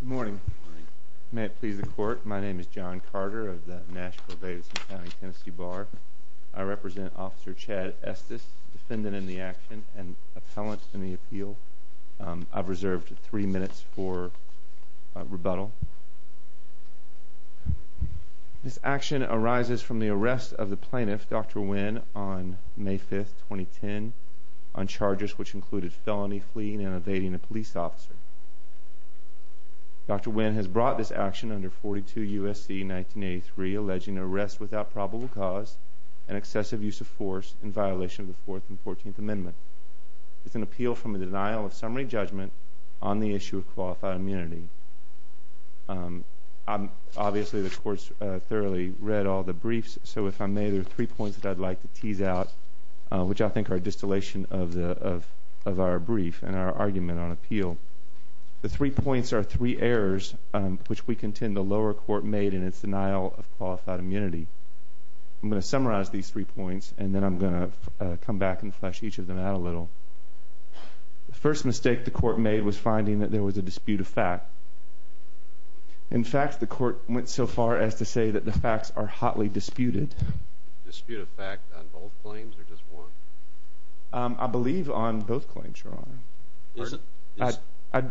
Good morning. May it please the court, my name is John Carter of the Nashville-Davidson County, Tennessee Bar. I represent Officer Chad Estes, defendant in the action and appellant in the appeal. I've reserved three minutes for rebuttal. This action arises from the arrest of the plaintiff, Dr. Wynn, on May 5, 2010, on charges which included felony fleeing and evading a police officer. Dr. Wynn has brought this action under 42 U.S.C. in 1983, alleging arrest without probable cause and excessive use of force in violation of the Fourth and Fourteenth Amendment. It's an appeal from a denial of summary judgment on the issue of qualified immunity. Obviously, the court's thoroughly read all the briefs, so if I may, there are three points that I'd like to tease out, which I think are a distillation of our brief and our argument on appeal. The three points are three errors which we contend the lower court made in its denial of qualified immunity. I'm going to summarize these three points and then I'm going to come back and flesh each of them out a little. The first mistake the court made was finding that there was a dispute of fact. In fact, the court went so far as to say that the facts are hotly disputed. Dispute of fact on both claims or just one? I believe on both claims, Your Honor. I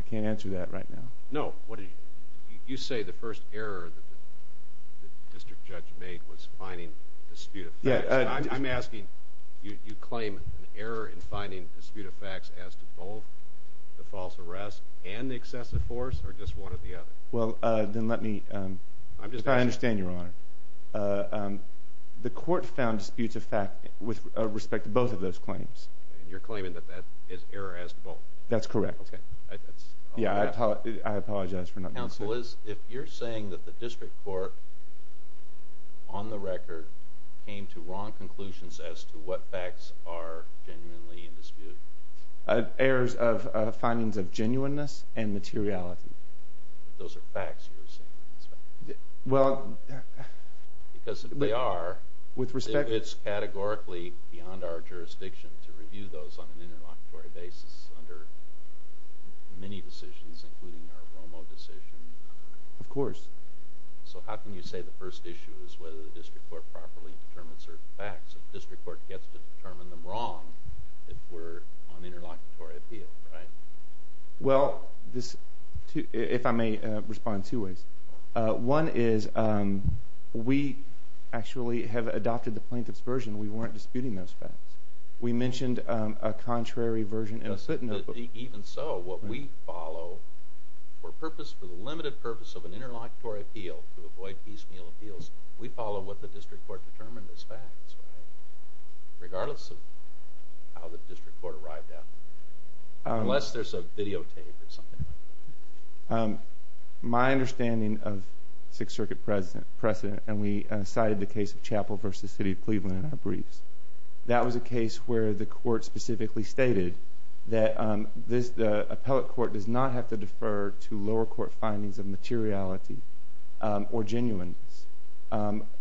can't answer that right now. No, you say the first error the district judge made was finding dispute of fact. I'm asking, you claim an error in finding dispute of fact as to both the false arrest and the excessive force or just one or the other? I understand, Your Honor. The court found dispute of fact with respect to both of those claims. You're claiming that that is error as to both? That's correct. I apologize for not being clear. If you're saying that the district court on the record came to wrong conclusions as to what facts are genuinely in dispute? Errors of findings of genuineness and materiality. Those are facts you're saying. Well, because they are, it's categorically beyond our jurisdiction to review those on an interlocutory basis under many decisions including our Romo decision. Of course. So how can you say the first issue is whether the district court properly determined certain facts if the district court gets to an interlocutory appeal? Well, if I may respond in two ways. One is we actually have adopted the plaintiff's version. We weren't disputing those facts. We mentioned a contrary version. Even so, what we follow for the limited purpose of an interlocutory appeal to avoid piecemeal appeals, we follow what the district court determined as facts, regardless of how the Unless there's a videotape or something like that. My understanding of Sixth Circuit precedent, and we cited the case of Chapel v. City of Cleveland in our briefs, that was a case where the court specifically stated that the appellate court does not have to defer to lower court findings of materiality or genuineness.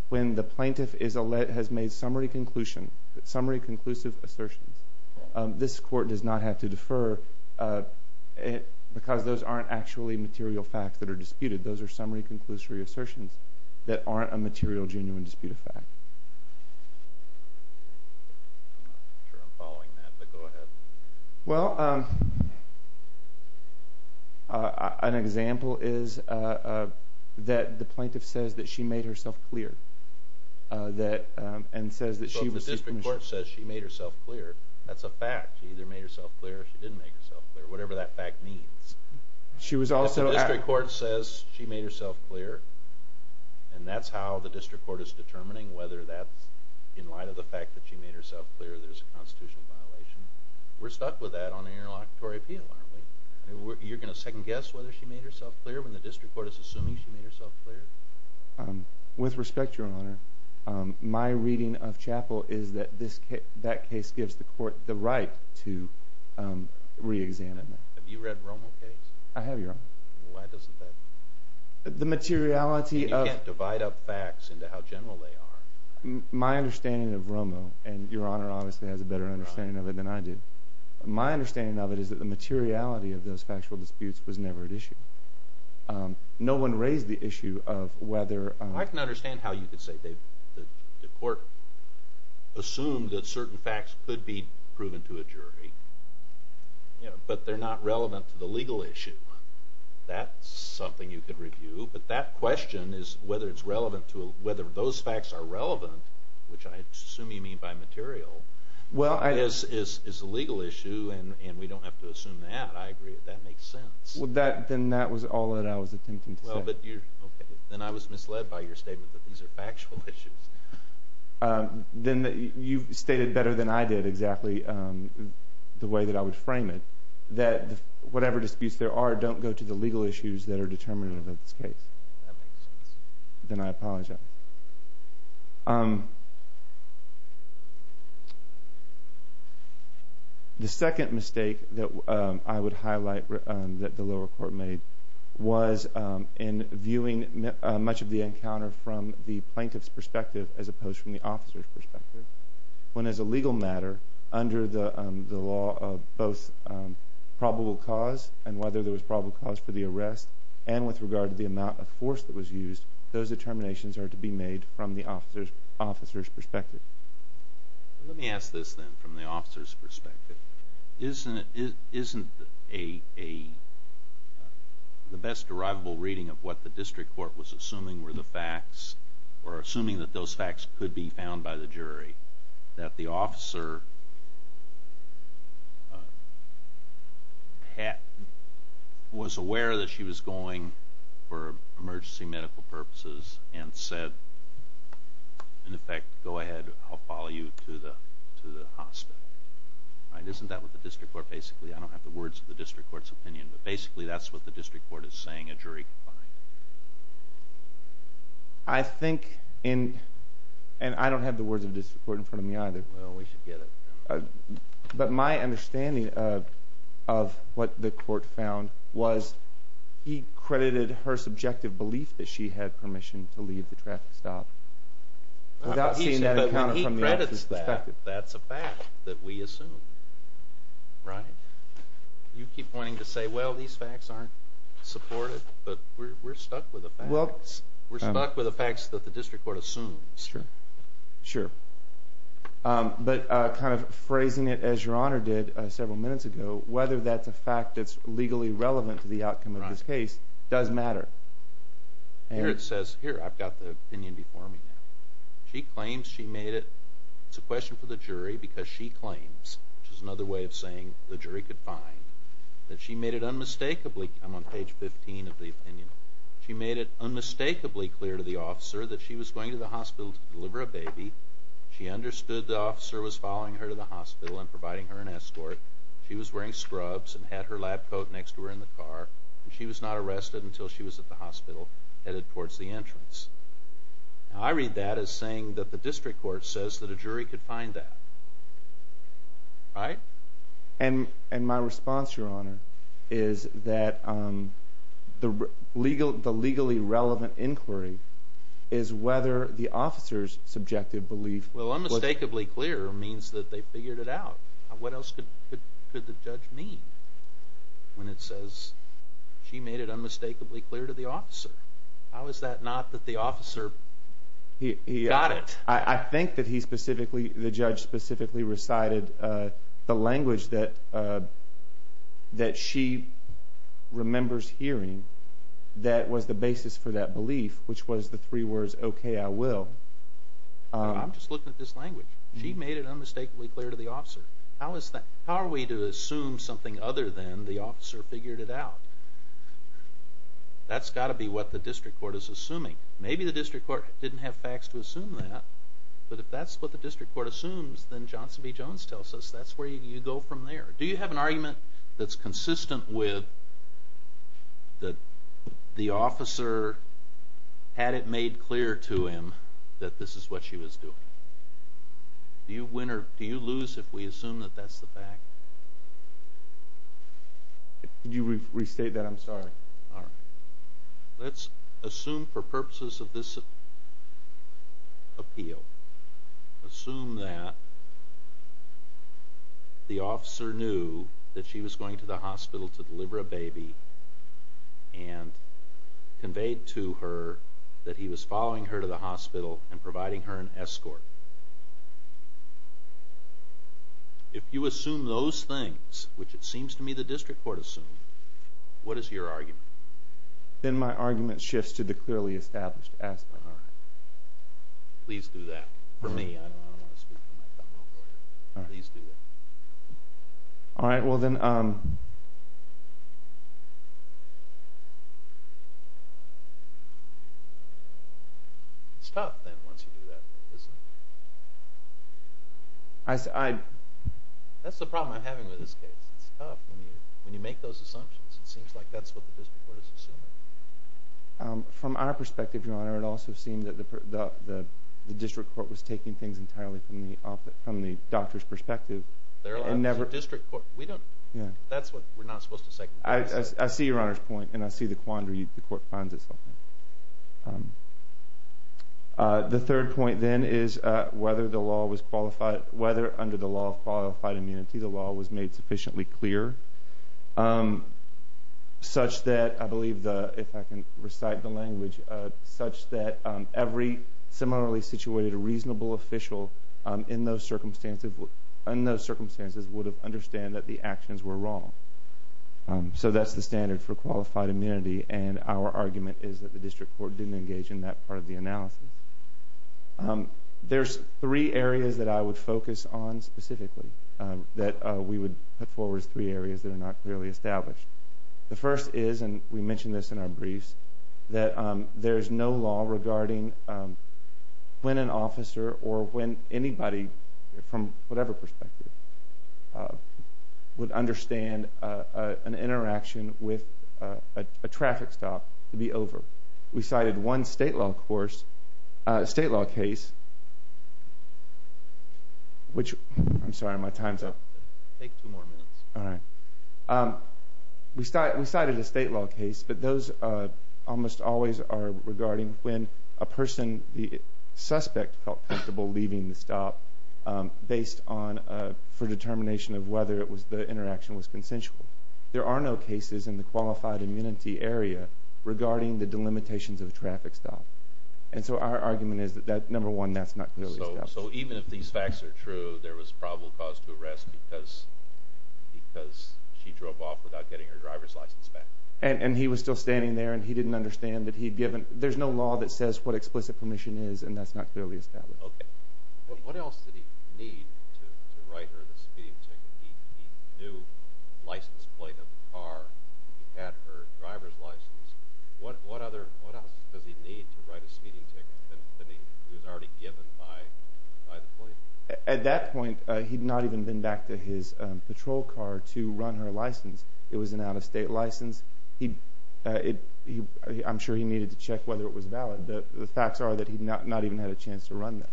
When the plaintiff has made summary conclusions, summary conclusive assertions, this court does not have to defer because those aren't actually material facts that are disputed. Those are summary conclusive assertions that aren't a material genuine dispute of fact. I'm not sure I'm following that, but go ahead. Well, an example is that the plaintiff says that she made herself clear and says that she received permission. Well, if the district court says she made herself clear, that's a fact. She either made herself clear or she didn't make herself clear, whatever that fact means. If the district court says she made herself clear and that's how the district court is determining whether that's in light of the fact that she made herself clear there's a constitutional violation, we're stuck with that on an interlocutory appeal, aren't we? You're going to second guess whether she made herself clear when the district court is assuming she made herself clear? With respect, Your Honor, my reading of Chappell is that that case gives the court the right to re-examine that. Have you read Romo's case? I have, Your Honor. Why doesn't that... You can't divide up facts into how general they are. My understanding of Romo, and Your Honor obviously has a better understanding of it than I do, my understanding of it is that the materiality of those factual disputes was never at issue. No one raised the issue of whether... I can understand how you could say the court assumed that certain facts could be proven to a jury, but they're not relevant to the legal issue. That's something you could review, but that question is whether those facts are relevant, which I assume you don't have to assume that. I agree with that. That makes sense. Then that was all that I was attempting to say. Then I was misled by your statement that these are factual issues. You've stated better than I did exactly the way that I would frame it, that whatever disputes there are don't go to the legal issues that are determinative of this case. Then I apologize. The second mistake that I would highlight that the lower court made was in viewing much of the encounter from the plaintiff's perspective as opposed to the officer's perspective. When as a legal matter, under the law of both probable cause and whether there was probable cause for the arrest, and with regard to the amount of force that was used, those determinations are to be made from the officer's perspective. Let me ask this then from the officer's perspective. Isn't the best derivable reading of what the district court was assuming were the facts, or assuming that those facts could be found by the jury, that the officer was aware that she was going for emergency medical purposes and said, in effect, go ahead, I'll follow you to the hospital? Isn't that what the district court basically, I don't have the words of the district court's opinion, but basically that's what the district court is saying a jury could find? I think, and I don't have the words of the district court in front of me either, but my understanding of what the court found was he credited her subjective belief that she had permission to leave the traffic stop. Without seeing that from the officer's perspective. But when he credits that, that's a fact that we assume, right? You keep pointing to say, well, these facts aren't supported, but we're stuck with the facts. We're stuck with the facts that the district court assumes. Sure, sure. But kind of phrasing it as your honor did several minutes ago, whether that's a fact that's legally relevant to the outcome of this case does matter. Here, it says, here, I've got the opinion before me now. She claims she made it, it's a question for the jury because she claims, which is another way of saying the jury could find, that she made it unmistakably, I'm on page 15 of the opinion, she made it unmistakably clear to the officer that she was going to the hospital to deliver a baby. She understood the officer was following her to the hospital and providing her an escort. She was wearing scrubs and had her lab coat next to her in the car. She was not arrested until she was at the hospital headed towards the entrance. Now, I read that as saying that the district court says that a jury could find that, right? And my response, your honor, is that the legally relevant inquiry is whether the officer's subjective belief... Well, unmistakably clear means that they figured it out. What else could the judge mean when it says she made it unmistakably clear to the officer? How is that not that the officer got it? I think that the judge specifically recited the language that she remembers hearing that was the basis for that belief, which was the three words, okay, I will. I'm just looking at this language. She made it unmistakably clear to the officer. How are we to assume something other than the officer figured it out? That's got to be what the district court is assuming. Maybe the district court didn't have facts to assume that, but if that's what the district court assumes, then Johnson v. Jones tells us that's where you go from there. Do you have an argument that's consistent with the officer had it made clear to him that this is what she was doing? Do you win or do you lose if we assume that that's the fact? Could you restate that? I'm sorry. Let's assume for purposes of this appeal, assume that the officer knew that she was going to the hospital to deliver a baby and conveyed to her that he was following her to the hospital and providing her an escort. If you assume those things, which it seems to me the district court assumed, what is your argument? Then my argument shifts to the clearly established aspect. Please do that for me. I don't want to speak for my fellow lawyers. Please do that. It's tough then once you do that, isn't it? That's the problem I'm having with this case. It's tough when you make those assumptions. It seems like that's what the district court was assuming. From our perspective, Your Honor, it also seemed that the district court was taking things entirely from the doctor's perspective. They're a district court. That's what we're not supposed to say. I see Your Honor's point and I see the quandary the court finds itself in. The third point then is whether under the law of qualified immunity the law was made sufficiently clear such that I believe, if I can recite the language, such that every similarly situated reasonable official in those circumstances would understand that the actions were wrong. That's the standard for qualified immunity. Our argument is that the district court didn't engage in that part of the analysis. There's three areas that I would focus on specifically that we would put forward as three areas that are not clearly established. The first is, and we mentioned this in our briefs, that there's no law regarding when an officer or when anybody, from whatever perspective, would understand an interaction with a traffic stop to be over. We cited one state law case. We cited a state law case, but those almost always are regarding when a person, the suspect felt comfortable leaving the stop based on, for determination of whether the interaction was consensual. There are no cases in the qualified immunity area regarding the delimitations of a traffic stop. And so our argument is that, number one, that's not clearly established. And he was still standing there and he didn't understand that he'd given, there's no law that says what explicit permission is and that's not clearly established. What else does he need to write a speeding ticket that he was already given by the police? At that point, he'd not even been back to his patrol car to run her license. It was an out-of-state license. I'm sure he needed to check whether it was valid. The facts are that he'd not even had a chance to run that.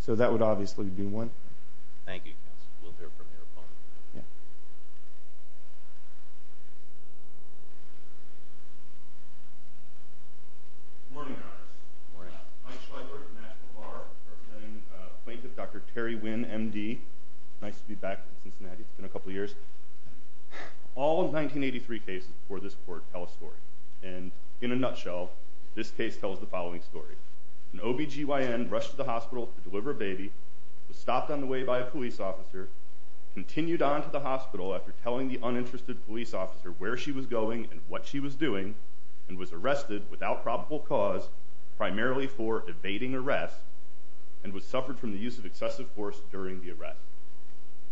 So that would obviously be one. Thank you, counsel. We'll hear from your opponent. Good morning, Your Honors. Good morning. Mike Schweigert, National Bar, representing Plaintiff Dr. Terry Wynn, M.D. Nice to be back in Cincinnati. It's been a couple of years. All 1983 cases before this court tell a story. And in a nutshell, this case tells the following story. An OBGYN rushed to the hospital to deliver a baby, was stopped on the way by a police officer, continued on to the hospital after telling the uninterested police officer where she was going and what she was doing, and was arrested without probable cause, primarily for evading arrest, and was suffered from the use of excessive force during the arrest.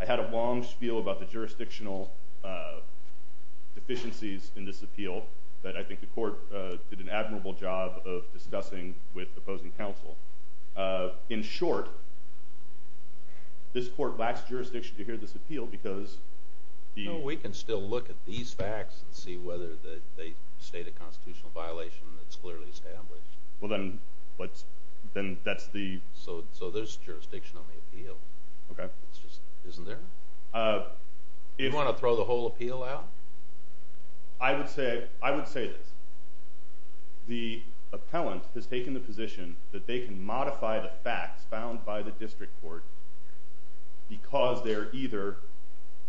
I had a long spiel about the jurisdictional deficiencies in this appeal, but I think the court did an admirable job of discussing with opposing counsel. In short, this court lacks jurisdiction to hear this appeal because the— We can still look at these facts and see whether they state a constitutional violation that's clearly established. Well, then that's the— So there's jurisdiction on the appeal. Okay. It's just—isn't there? You want to throw the whole appeal out? I would say this. The appellant has taken the position that they can modify the facts found by the district court because they're either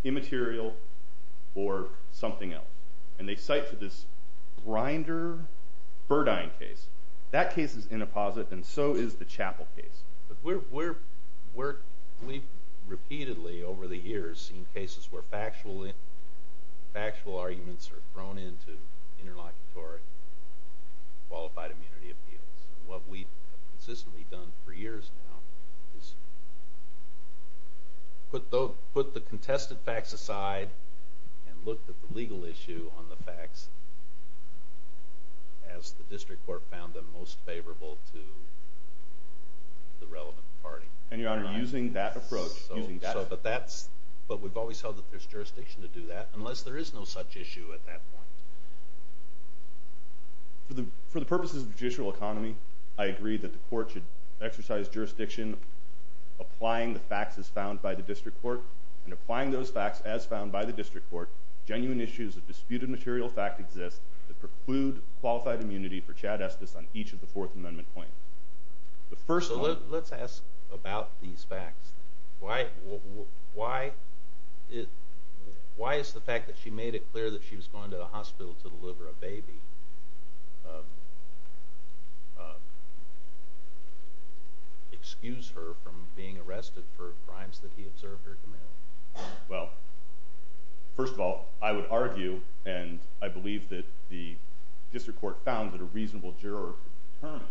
immaterial or something else, and they cite to this Grinder-Burdine case. That case is in a posit, and so is the Chappell case. We've repeatedly, over the years, seen cases where factual arguments are thrown into interlocutory qualified immunity appeals. What we've consistently done for years now is put the contested facts aside and looked at the legal issue on the facts as the district court found them most favorable to the relevant party. And, Your Honor, using that approach, using that— But we've always held that there's jurisdiction to do that, unless there is no such issue at that point. For the purposes of judicial economy, I agree that the court should exercise jurisdiction, applying the facts as found by the district court, and applying those facts as found by the district court, genuine issues of disputed material fact exist that preclude qualified immunity for Chad Estes on each of the Fourth Amendment claims. The first one— So let's ask about these facts. Why is the fact that she made it clear that she was going to the hospital to deliver a baby excuse her from being arrested for crimes that he observed her committing? Well, first of all, I would argue, and I believe that the district court found that a reasonable juror could determine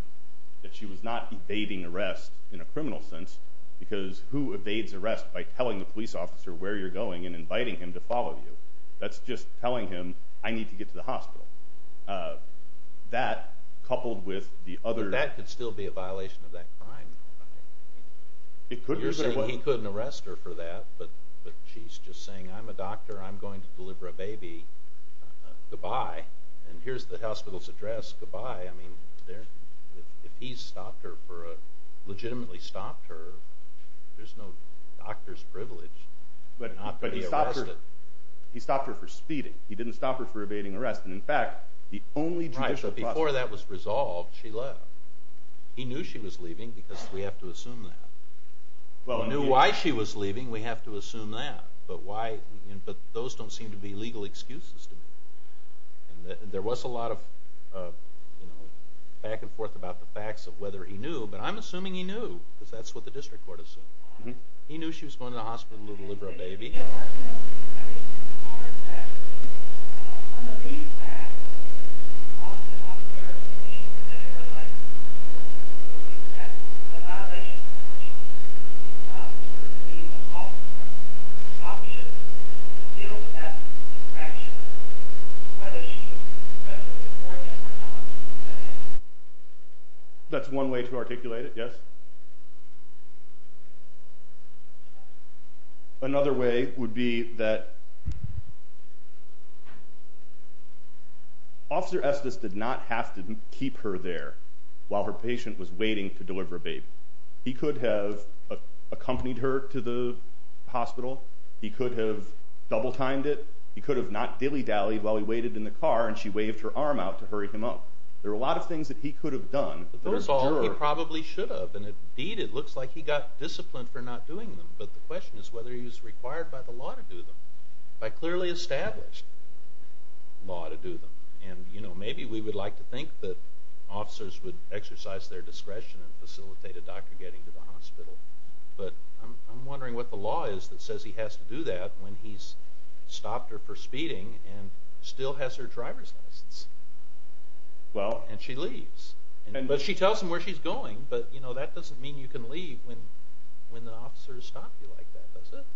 that she was not evading arrest in a criminal sense, because who evades arrest by telling the police officer where you're going and inviting him to follow you? That's just telling him, I need to get to the hospital. That, coupled with the other— But that could still be a violation of that crime. It could be. You're saying he couldn't arrest her for that, but she's just saying, I'm a doctor. I'm going to deliver a baby. Goodbye. And here's the hospital's address. Goodbye. I mean, if he legitimately stopped her, there's no doctor's privilege not to be arrested. But he stopped her for speeding. He didn't stop her for evading arrest. And in fact, the only judicial process— Right, but before that was resolved, she left. He knew she was leaving, because we have to assume that. He knew why she was leaving. We have to assume that. But those don't seem to be legal excuses to me. There was a lot of back and forth about the facts of whether he knew. But I'm assuming he knew, because that's what the district court assumed. He knew she was going to the hospital to deliver a baby. That's one way to articulate it, yes? Another way would be that Officer Estes did not have to keep her there while her patient was waiting to deliver a baby. He could have accompanied her to the hospital. He could have double-timed it. He could have not dilly-dallied while he waited in the car, and she waved her arm out to hurry him up. There were a lot of things that he could have done. Those are all he probably should have. Indeed, it looks like he got disciplined for not doing them. But the question is whether he was required by the law to do them, by clearly established law to do them. Maybe we would like to think that officers would exercise their discretion and facilitate a doctor getting to the hospital. But I'm wondering what the law is that says he has to do that when he's stopped her for speeding and still has her driver's license, and she leaves. But she tells him where she's going, but that doesn't mean you can leave when the officers stop you like that, does it?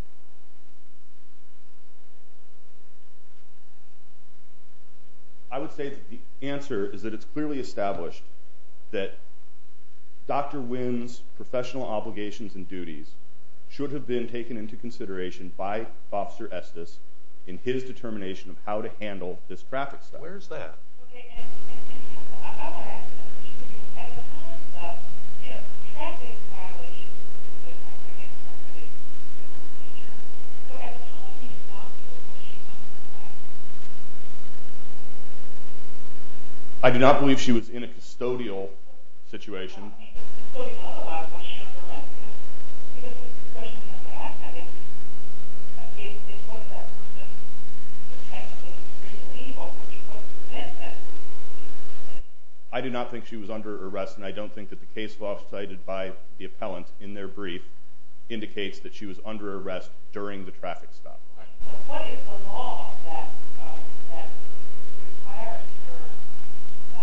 I would say that the answer is that it's clearly established that Dr. Wynn's professional obligations and duties should have been taken into consideration by Officer Estes in his determination of how to handle this traffic stop. I do not believe she was in a custodial situation. I do not think she was under arrest, and I don't think that the case law cited by the appellant in their brief indicates that she was under arrest during the traffic stop. What is the law that requires her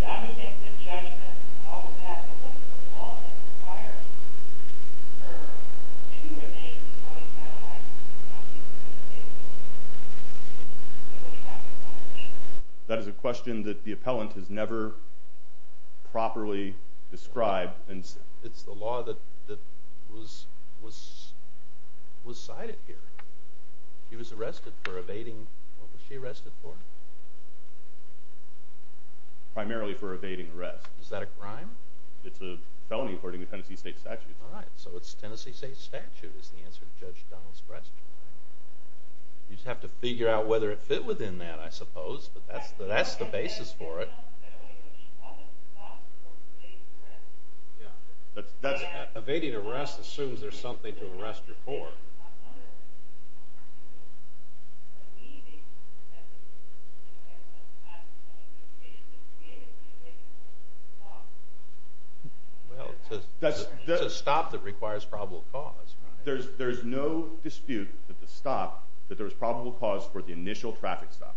to remain in a custodial situation? That is a question that the appellant has never properly described. It's the law that was cited here. She was arrested for evading – what was she arrested for? Primarily for evading arrest. Is that a crime? It's a felony according to Tennessee state statute. All right, so it's Tennessee state statute is the answer to Judge Donald's question. You'd have to figure out whether it fit within that, I suppose, but that's the basis for it. She wasn't stopped for evading arrest. Evading arrest assumes there's something to arrest her for. Under arrest, she's not under arrest. For me, the application that's being made to evade arrest is a stop. Well, it's a stop that requires probable cause. There's no dispute that the stop – that there was probable cause for the initial traffic stop.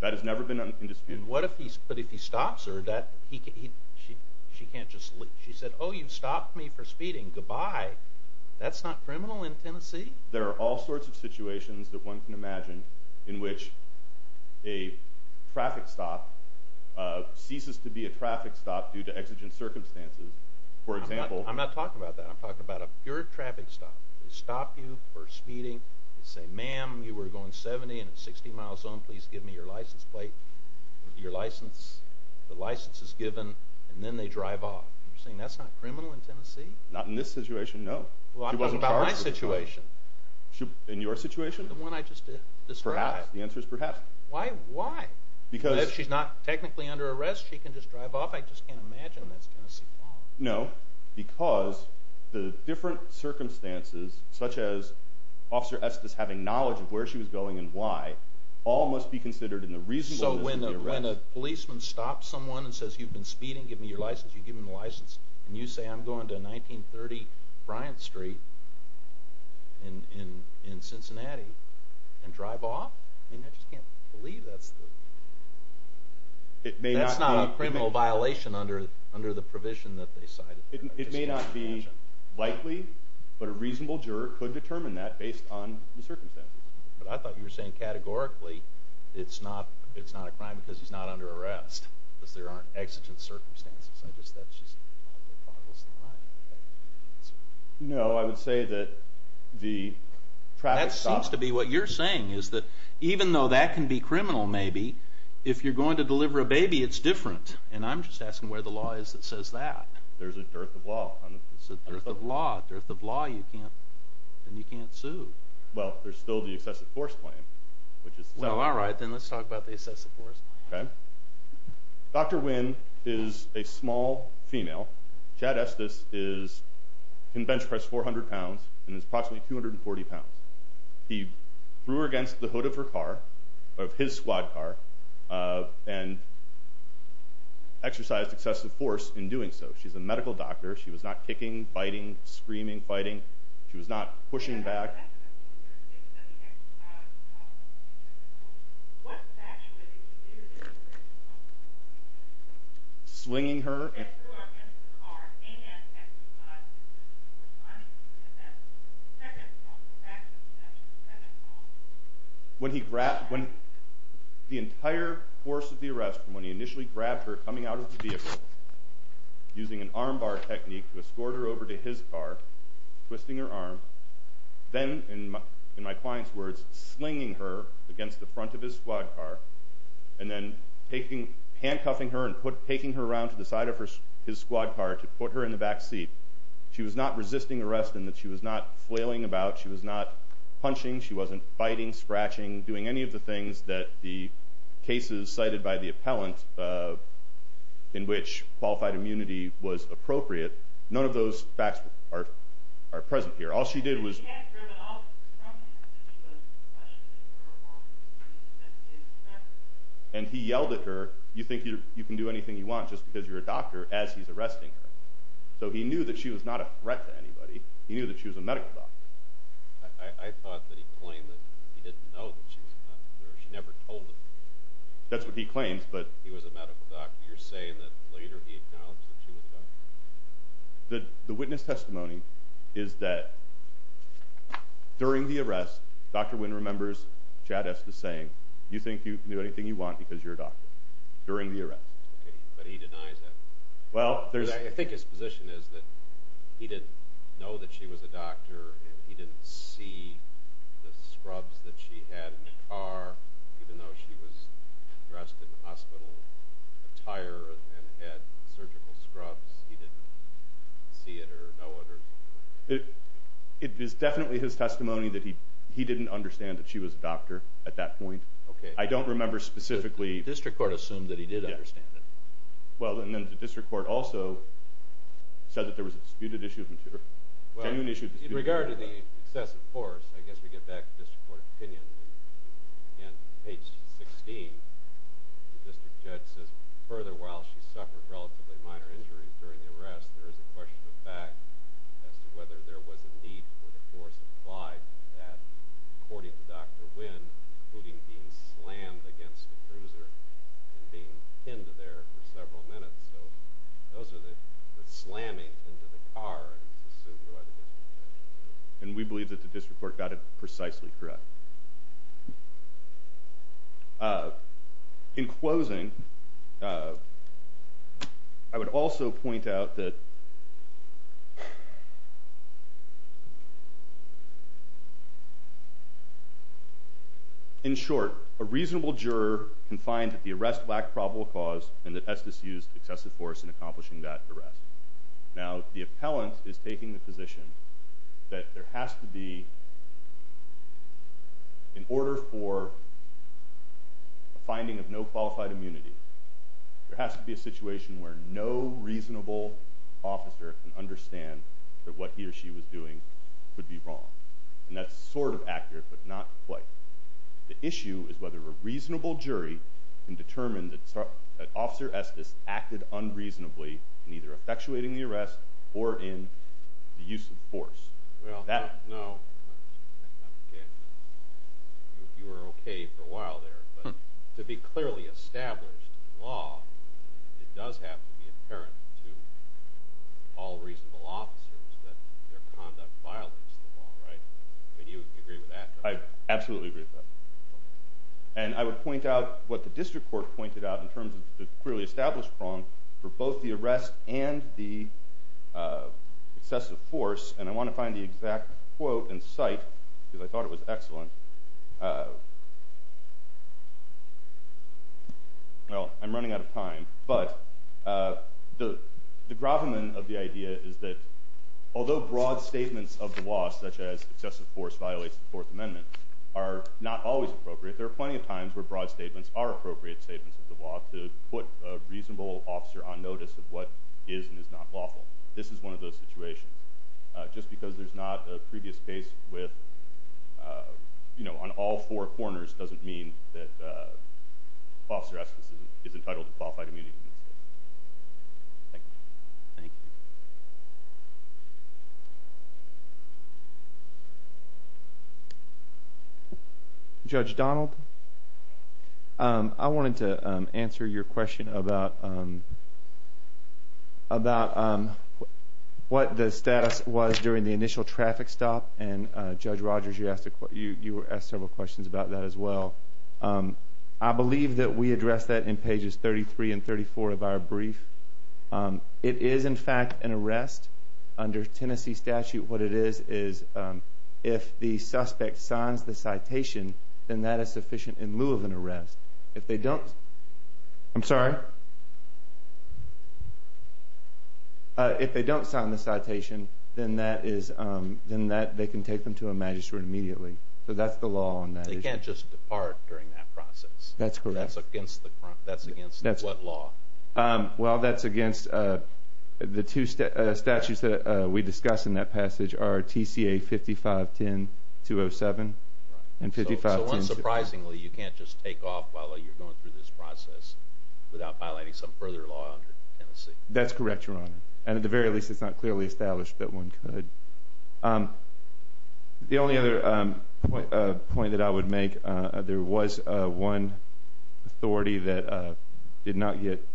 That has never been in dispute. But if he stops her, she can't just leave. She said, oh, you've stopped me for speeding. Goodbye. That's not criminal in Tennessee. There are all sorts of situations that one can imagine in which a traffic stop ceases to be a traffic stop due to exigent circumstances. I'm not talking about that. I'm talking about a pure traffic stop. They stop you for speeding. They say, ma'am, you were going 70 and at 60 miles an hour. Please give me your license plate, your license. The license is given, and then they drive off. You're saying that's not criminal in Tennessee? Not in this situation, no. Well, I'm talking about my situation. In your situation? The one I just described. Perhaps. The answer is perhaps. Why? Why? Because – If she's not technically under arrest, she can just drive off. I just can't imagine that's Tennessee law. No, because the different circumstances, such as Officer Estes having knowledge of where she was going and why, all must be considered in the reasonableness of the arrest. So when a policeman stops someone and says, you've been speeding, give me your license, you give him the license, and you say, I'm going to 1930 Bryant Street in Cincinnati and drive off? I just can't believe that's the – It may not be likely, but a reasonable juror could determine that based on the circumstances. But I thought you were saying categorically it's not a crime because he's not under arrest, because there aren't exigent circumstances. No, I would say that the traffic stop – That seems to be what you're saying, is that even though that can be criminal maybe, if you're going to deliver a baby, it's different. And I'm just asking where the law is that says that. There's a dearth of law. It's a dearth of law. A dearth of law, and you can't sue. Well, there's still the excessive force claim, which is – Well, all right, then let's talk about the excessive force claim. Okay. Dr. Wynn is a small female. Chad Estes can bench press 400 pounds and is approximately 240 pounds. He threw her against the hood of her car, of his squad car, and exercised excessive force in doing so. She's a medical doctor. She was not kicking, biting, screaming, fighting. She was not pushing back. He threw her against the hood of his squad car. What actually did he do to her? Swinging her – He threw her against the car and exercised excessive force on him. And that second call, the fact of the matter, the second call – When he grabbed – The entire course of the arrest from when he initially grabbed her coming out of the vehicle, using an armbar technique to escort her over to his car, twisting her arm, then, in my client's words, slinging her against the front of his squad car and then handcuffing her and taking her around to the side of his squad car to put her in the back seat. She was not resisting arrest in that she was not flailing about. She was not punching. She wasn't biting, scratching, doing any of the things that the cases cited by the appellant in which qualified immunity was appropriate. None of those facts are present here. All she did was – And he yelled at her, you think you can do anything you want just because you're a doctor, as he's arresting her. So he knew that she was not a threat to anybody. He knew that she was a medical doctor. I thought that he claimed that he didn't know that she was a doctor. She never told him. That's what he claims, but – He was a medical doctor. You're saying that later he acknowledged that she was a doctor? The witness testimony is that during the arrest, Dr. Wynn remembers Chad Estes saying, you think you can do anything you want because you're a doctor, during the arrest. But he denies that. Well, there's – I think his position is that he didn't know that she was a doctor even though she was dressed in hospital attire and had surgical scrubs. He didn't see it or know it. It is definitely his testimony that he didn't understand that she was a doctor at that point. Okay. I don't remember specifically – The district court assumed that he did understand it. Well, and then the district court also said that there was a disputed issue of – Well, in regard to the excessive force, I guess we get back to district court opinion. Again, page 16, the district judge says, further, while she suffered relatively minor injuries during the arrest, there is a question of fact as to whether there was a need for the force applied to that, according to Dr. Wynn, including being slammed against the cruiser and being pinned there for several minutes. So those are the slamming into the car is assumed by the district judge. And we believe that the district court got it precisely correct. In closing, I would also point out that – In short, a reasonable juror can find that the arrest lacked probable cause and that Estes used excessive force in accomplishing that arrest. Now, the appellant is taking the position that there has to be, in order for a finding of no qualified immunity, there has to be a situation where no reasonable officer can understand that what he or she was doing could be wrong. And that's sort of accurate, but not quite. The issue is whether a reasonable jury can determine that Officer Estes acted unreasonably in either effectuating the arrest or in the use of force. I absolutely agree with that. And I would point out what the district court pointed out in terms of the clearly established wrong for both the arrest and the excessive force. And I want to find the exact quote and cite, because I thought it was excellent. Well, I'm running out of time. But the gravamen of the idea is that although broad statements of the law, such as excessive force violates the Fourth Amendment, are not always appropriate, there are plenty of times where broad statements are appropriate statements of the law to put a reasonable officer on notice of what is and is not lawful. This is one of those situations. Just because there's not a previous case on all four corners doesn't mean that Officer Estes is entitled to qualified immunity. Thank you. Judge Donald, I wanted to answer your question about what the status was during the initial traffic stop. And Judge Rogers, you asked several questions about that as well. I believe that we addressed that in pages 33 and 34 of our brief. It is, in fact, an arrest under Tennessee statute. What it is is if the suspect signs the citation, then that is sufficient in lieu of an arrest. If they don't sign the citation, then they can take them to a magistrate immediately. So that's the law on that issue. You can't just depart during that process. That's correct. That's against what law? Well, that's against the two statutes that we discuss in that passage, are TCA 55-10-207 and 55-10-207. So unsurprisingly, you can't just take off while you're going through this process without violating some further law under Tennessee. That's correct, Your Honor. And at the very least, it's not clearly established that one could. The only other point that I would make, there was one authority that did not get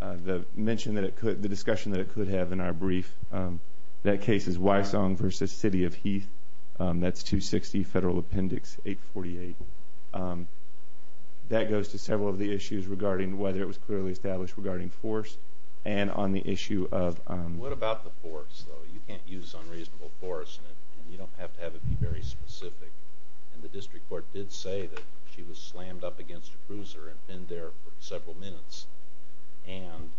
the mention that it could, the discussion that it could have in our brief. That case is Wysong v. City of Heath. That's 260 Federal Appendix 848. That goes to several of the issues regarding whether it was clearly established regarding force and on the issue of What about the force, though? You can't use unreasonable force, and you don't have to have it be very specific. And the district court did say that she was slammed up against a cruiser and been there for several minutes and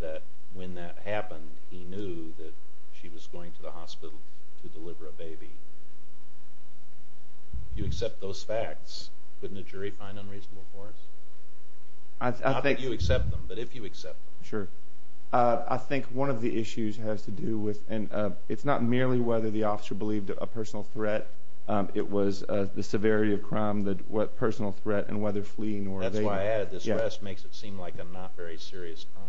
that when that happened, he knew that she was going to the hospital to deliver a baby. If you accept those facts, wouldn't a jury find unreasonable force? Not that you accept them, but if you accept them. Sure. I think one of the issues has to do with, and it's not merely whether the officer believed a personal threat. It was the severity of crime, the personal threat, and whether fleeing or evading. That's why I added this arrest makes it seem like a not very serious crime.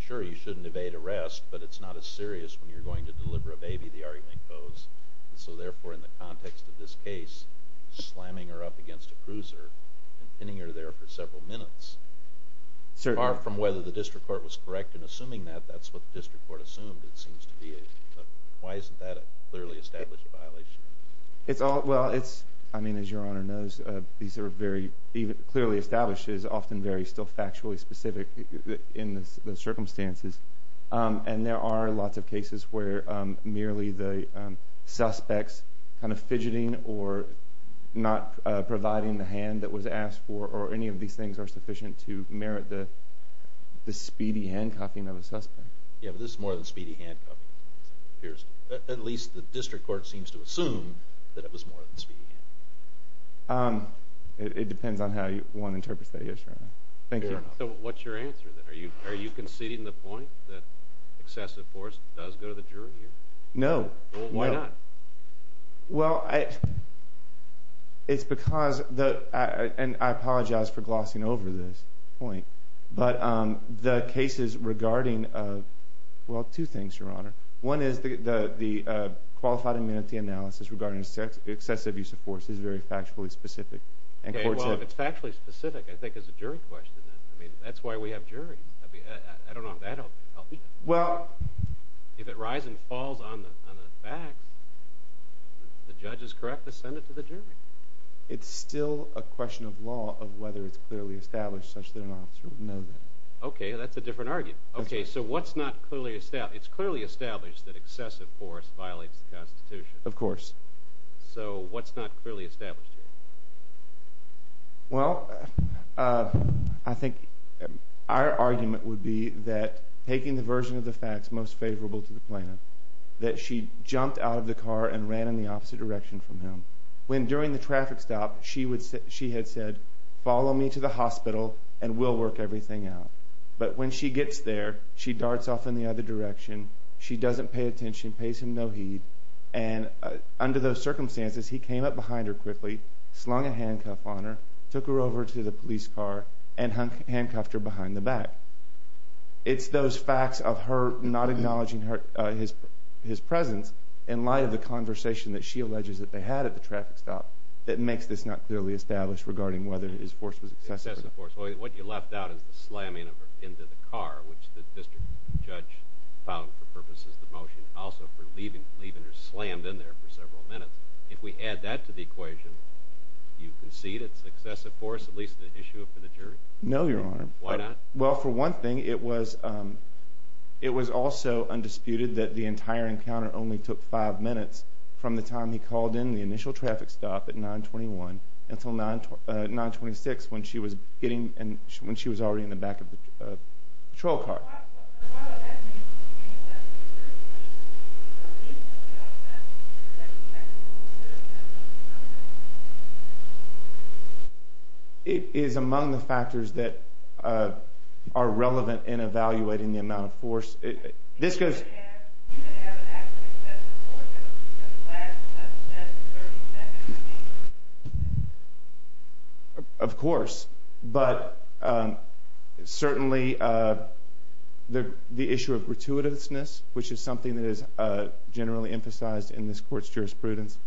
Sure, you shouldn't evade arrest, but it's not as serious when you're going to deliver a baby, the argument goes. So therefore, in the context of this case, slamming her up against a cruiser and pinning her there for several minutes, far from whether the district court was correct in assuming that, that's what the district court assumed it seems to be. Why isn't that a clearly established violation? Well, as your Honor knows, clearly established is often still very factually specific in the circumstances. And there are lots of cases where merely the suspects kind of fidgeting or not providing the hand that was asked for or any of these things are sufficient to merit the speedy handcuffing of a suspect. Yeah, but this is more than speedy handcuffing, it appears. At least the district court seems to assume that it was more than speedy handcuffing. It depends on how one interprets that, yes, Your Honor. Thank you. So what's your answer then? Are you conceding the point that excessive force does go to the jury here? No. Well, why not? Well, it's because, and I apologize for glossing over this point, but the cases regarding, well, two things, Your Honor. One is the qualified amenity analysis regarding excessive use of force is very factually specific. Okay, well, if it's factually specific, I think it's a jury question then. I mean, that's why we have juries. I don't know if that will help you. If it rises and falls on the facts, the judge is correct to send it to the jury. It's still a question of law of whether it's clearly established such that an officer would know that. Okay, that's a different argument. Okay, so what's not clearly established? It's clearly established that excessive force violates the Constitution. Of course. So what's not clearly established here? Well, I think our argument would be that taking the version of the facts most favorable to the plaintiff, that she jumped out of the car and ran in the opposite direction from him. When during the traffic stop, she had said, follow me to the hospital and we'll work everything out. But when she gets there, she darts off in the other direction. She doesn't pay attention, pays him no heed. And under those circumstances, he came up behind her quickly, slung a handcuff on her, took her over to the police car, and handcuffed her behind the back. It's those facts of her not acknowledging his presence in light of the conversation that she alleges that they had at the traffic stop that makes this not clearly established regarding whether his force was excessive. What you left out is the slamming into the car, which the district judge found for purposes of the motion, and also for leaving her slammed in there for several minutes. If we add that to the equation, do you concede it's excessive force, at least the issue for the jury? No, Your Honor. Why not? Well, for one thing, it was also undisputed that the entire encounter only took five minutes from the time he called in the initial traffic stop at 921 until 926 when she was already in the back of the patrol car. Why would that be? It is among the factors that are relevant in evaluating the amount of force. This goes— He didn't have an act of excessive force in the last 30 seconds, I mean. Of course, but certainly the issue of gratuitousness, which is something that is generally emphasized in this court's jurisprudence.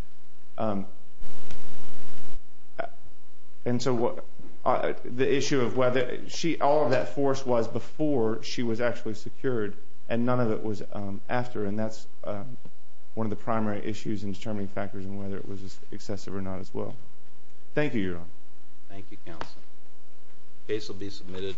And so the issue of whether she—all of that force was before she was actually secured, and none of it was after, and that's one of the primary issues in determining factors and whether it was excessive or not as well. Thank you, Your Honor. Thank you, counsel. The case will be submitted.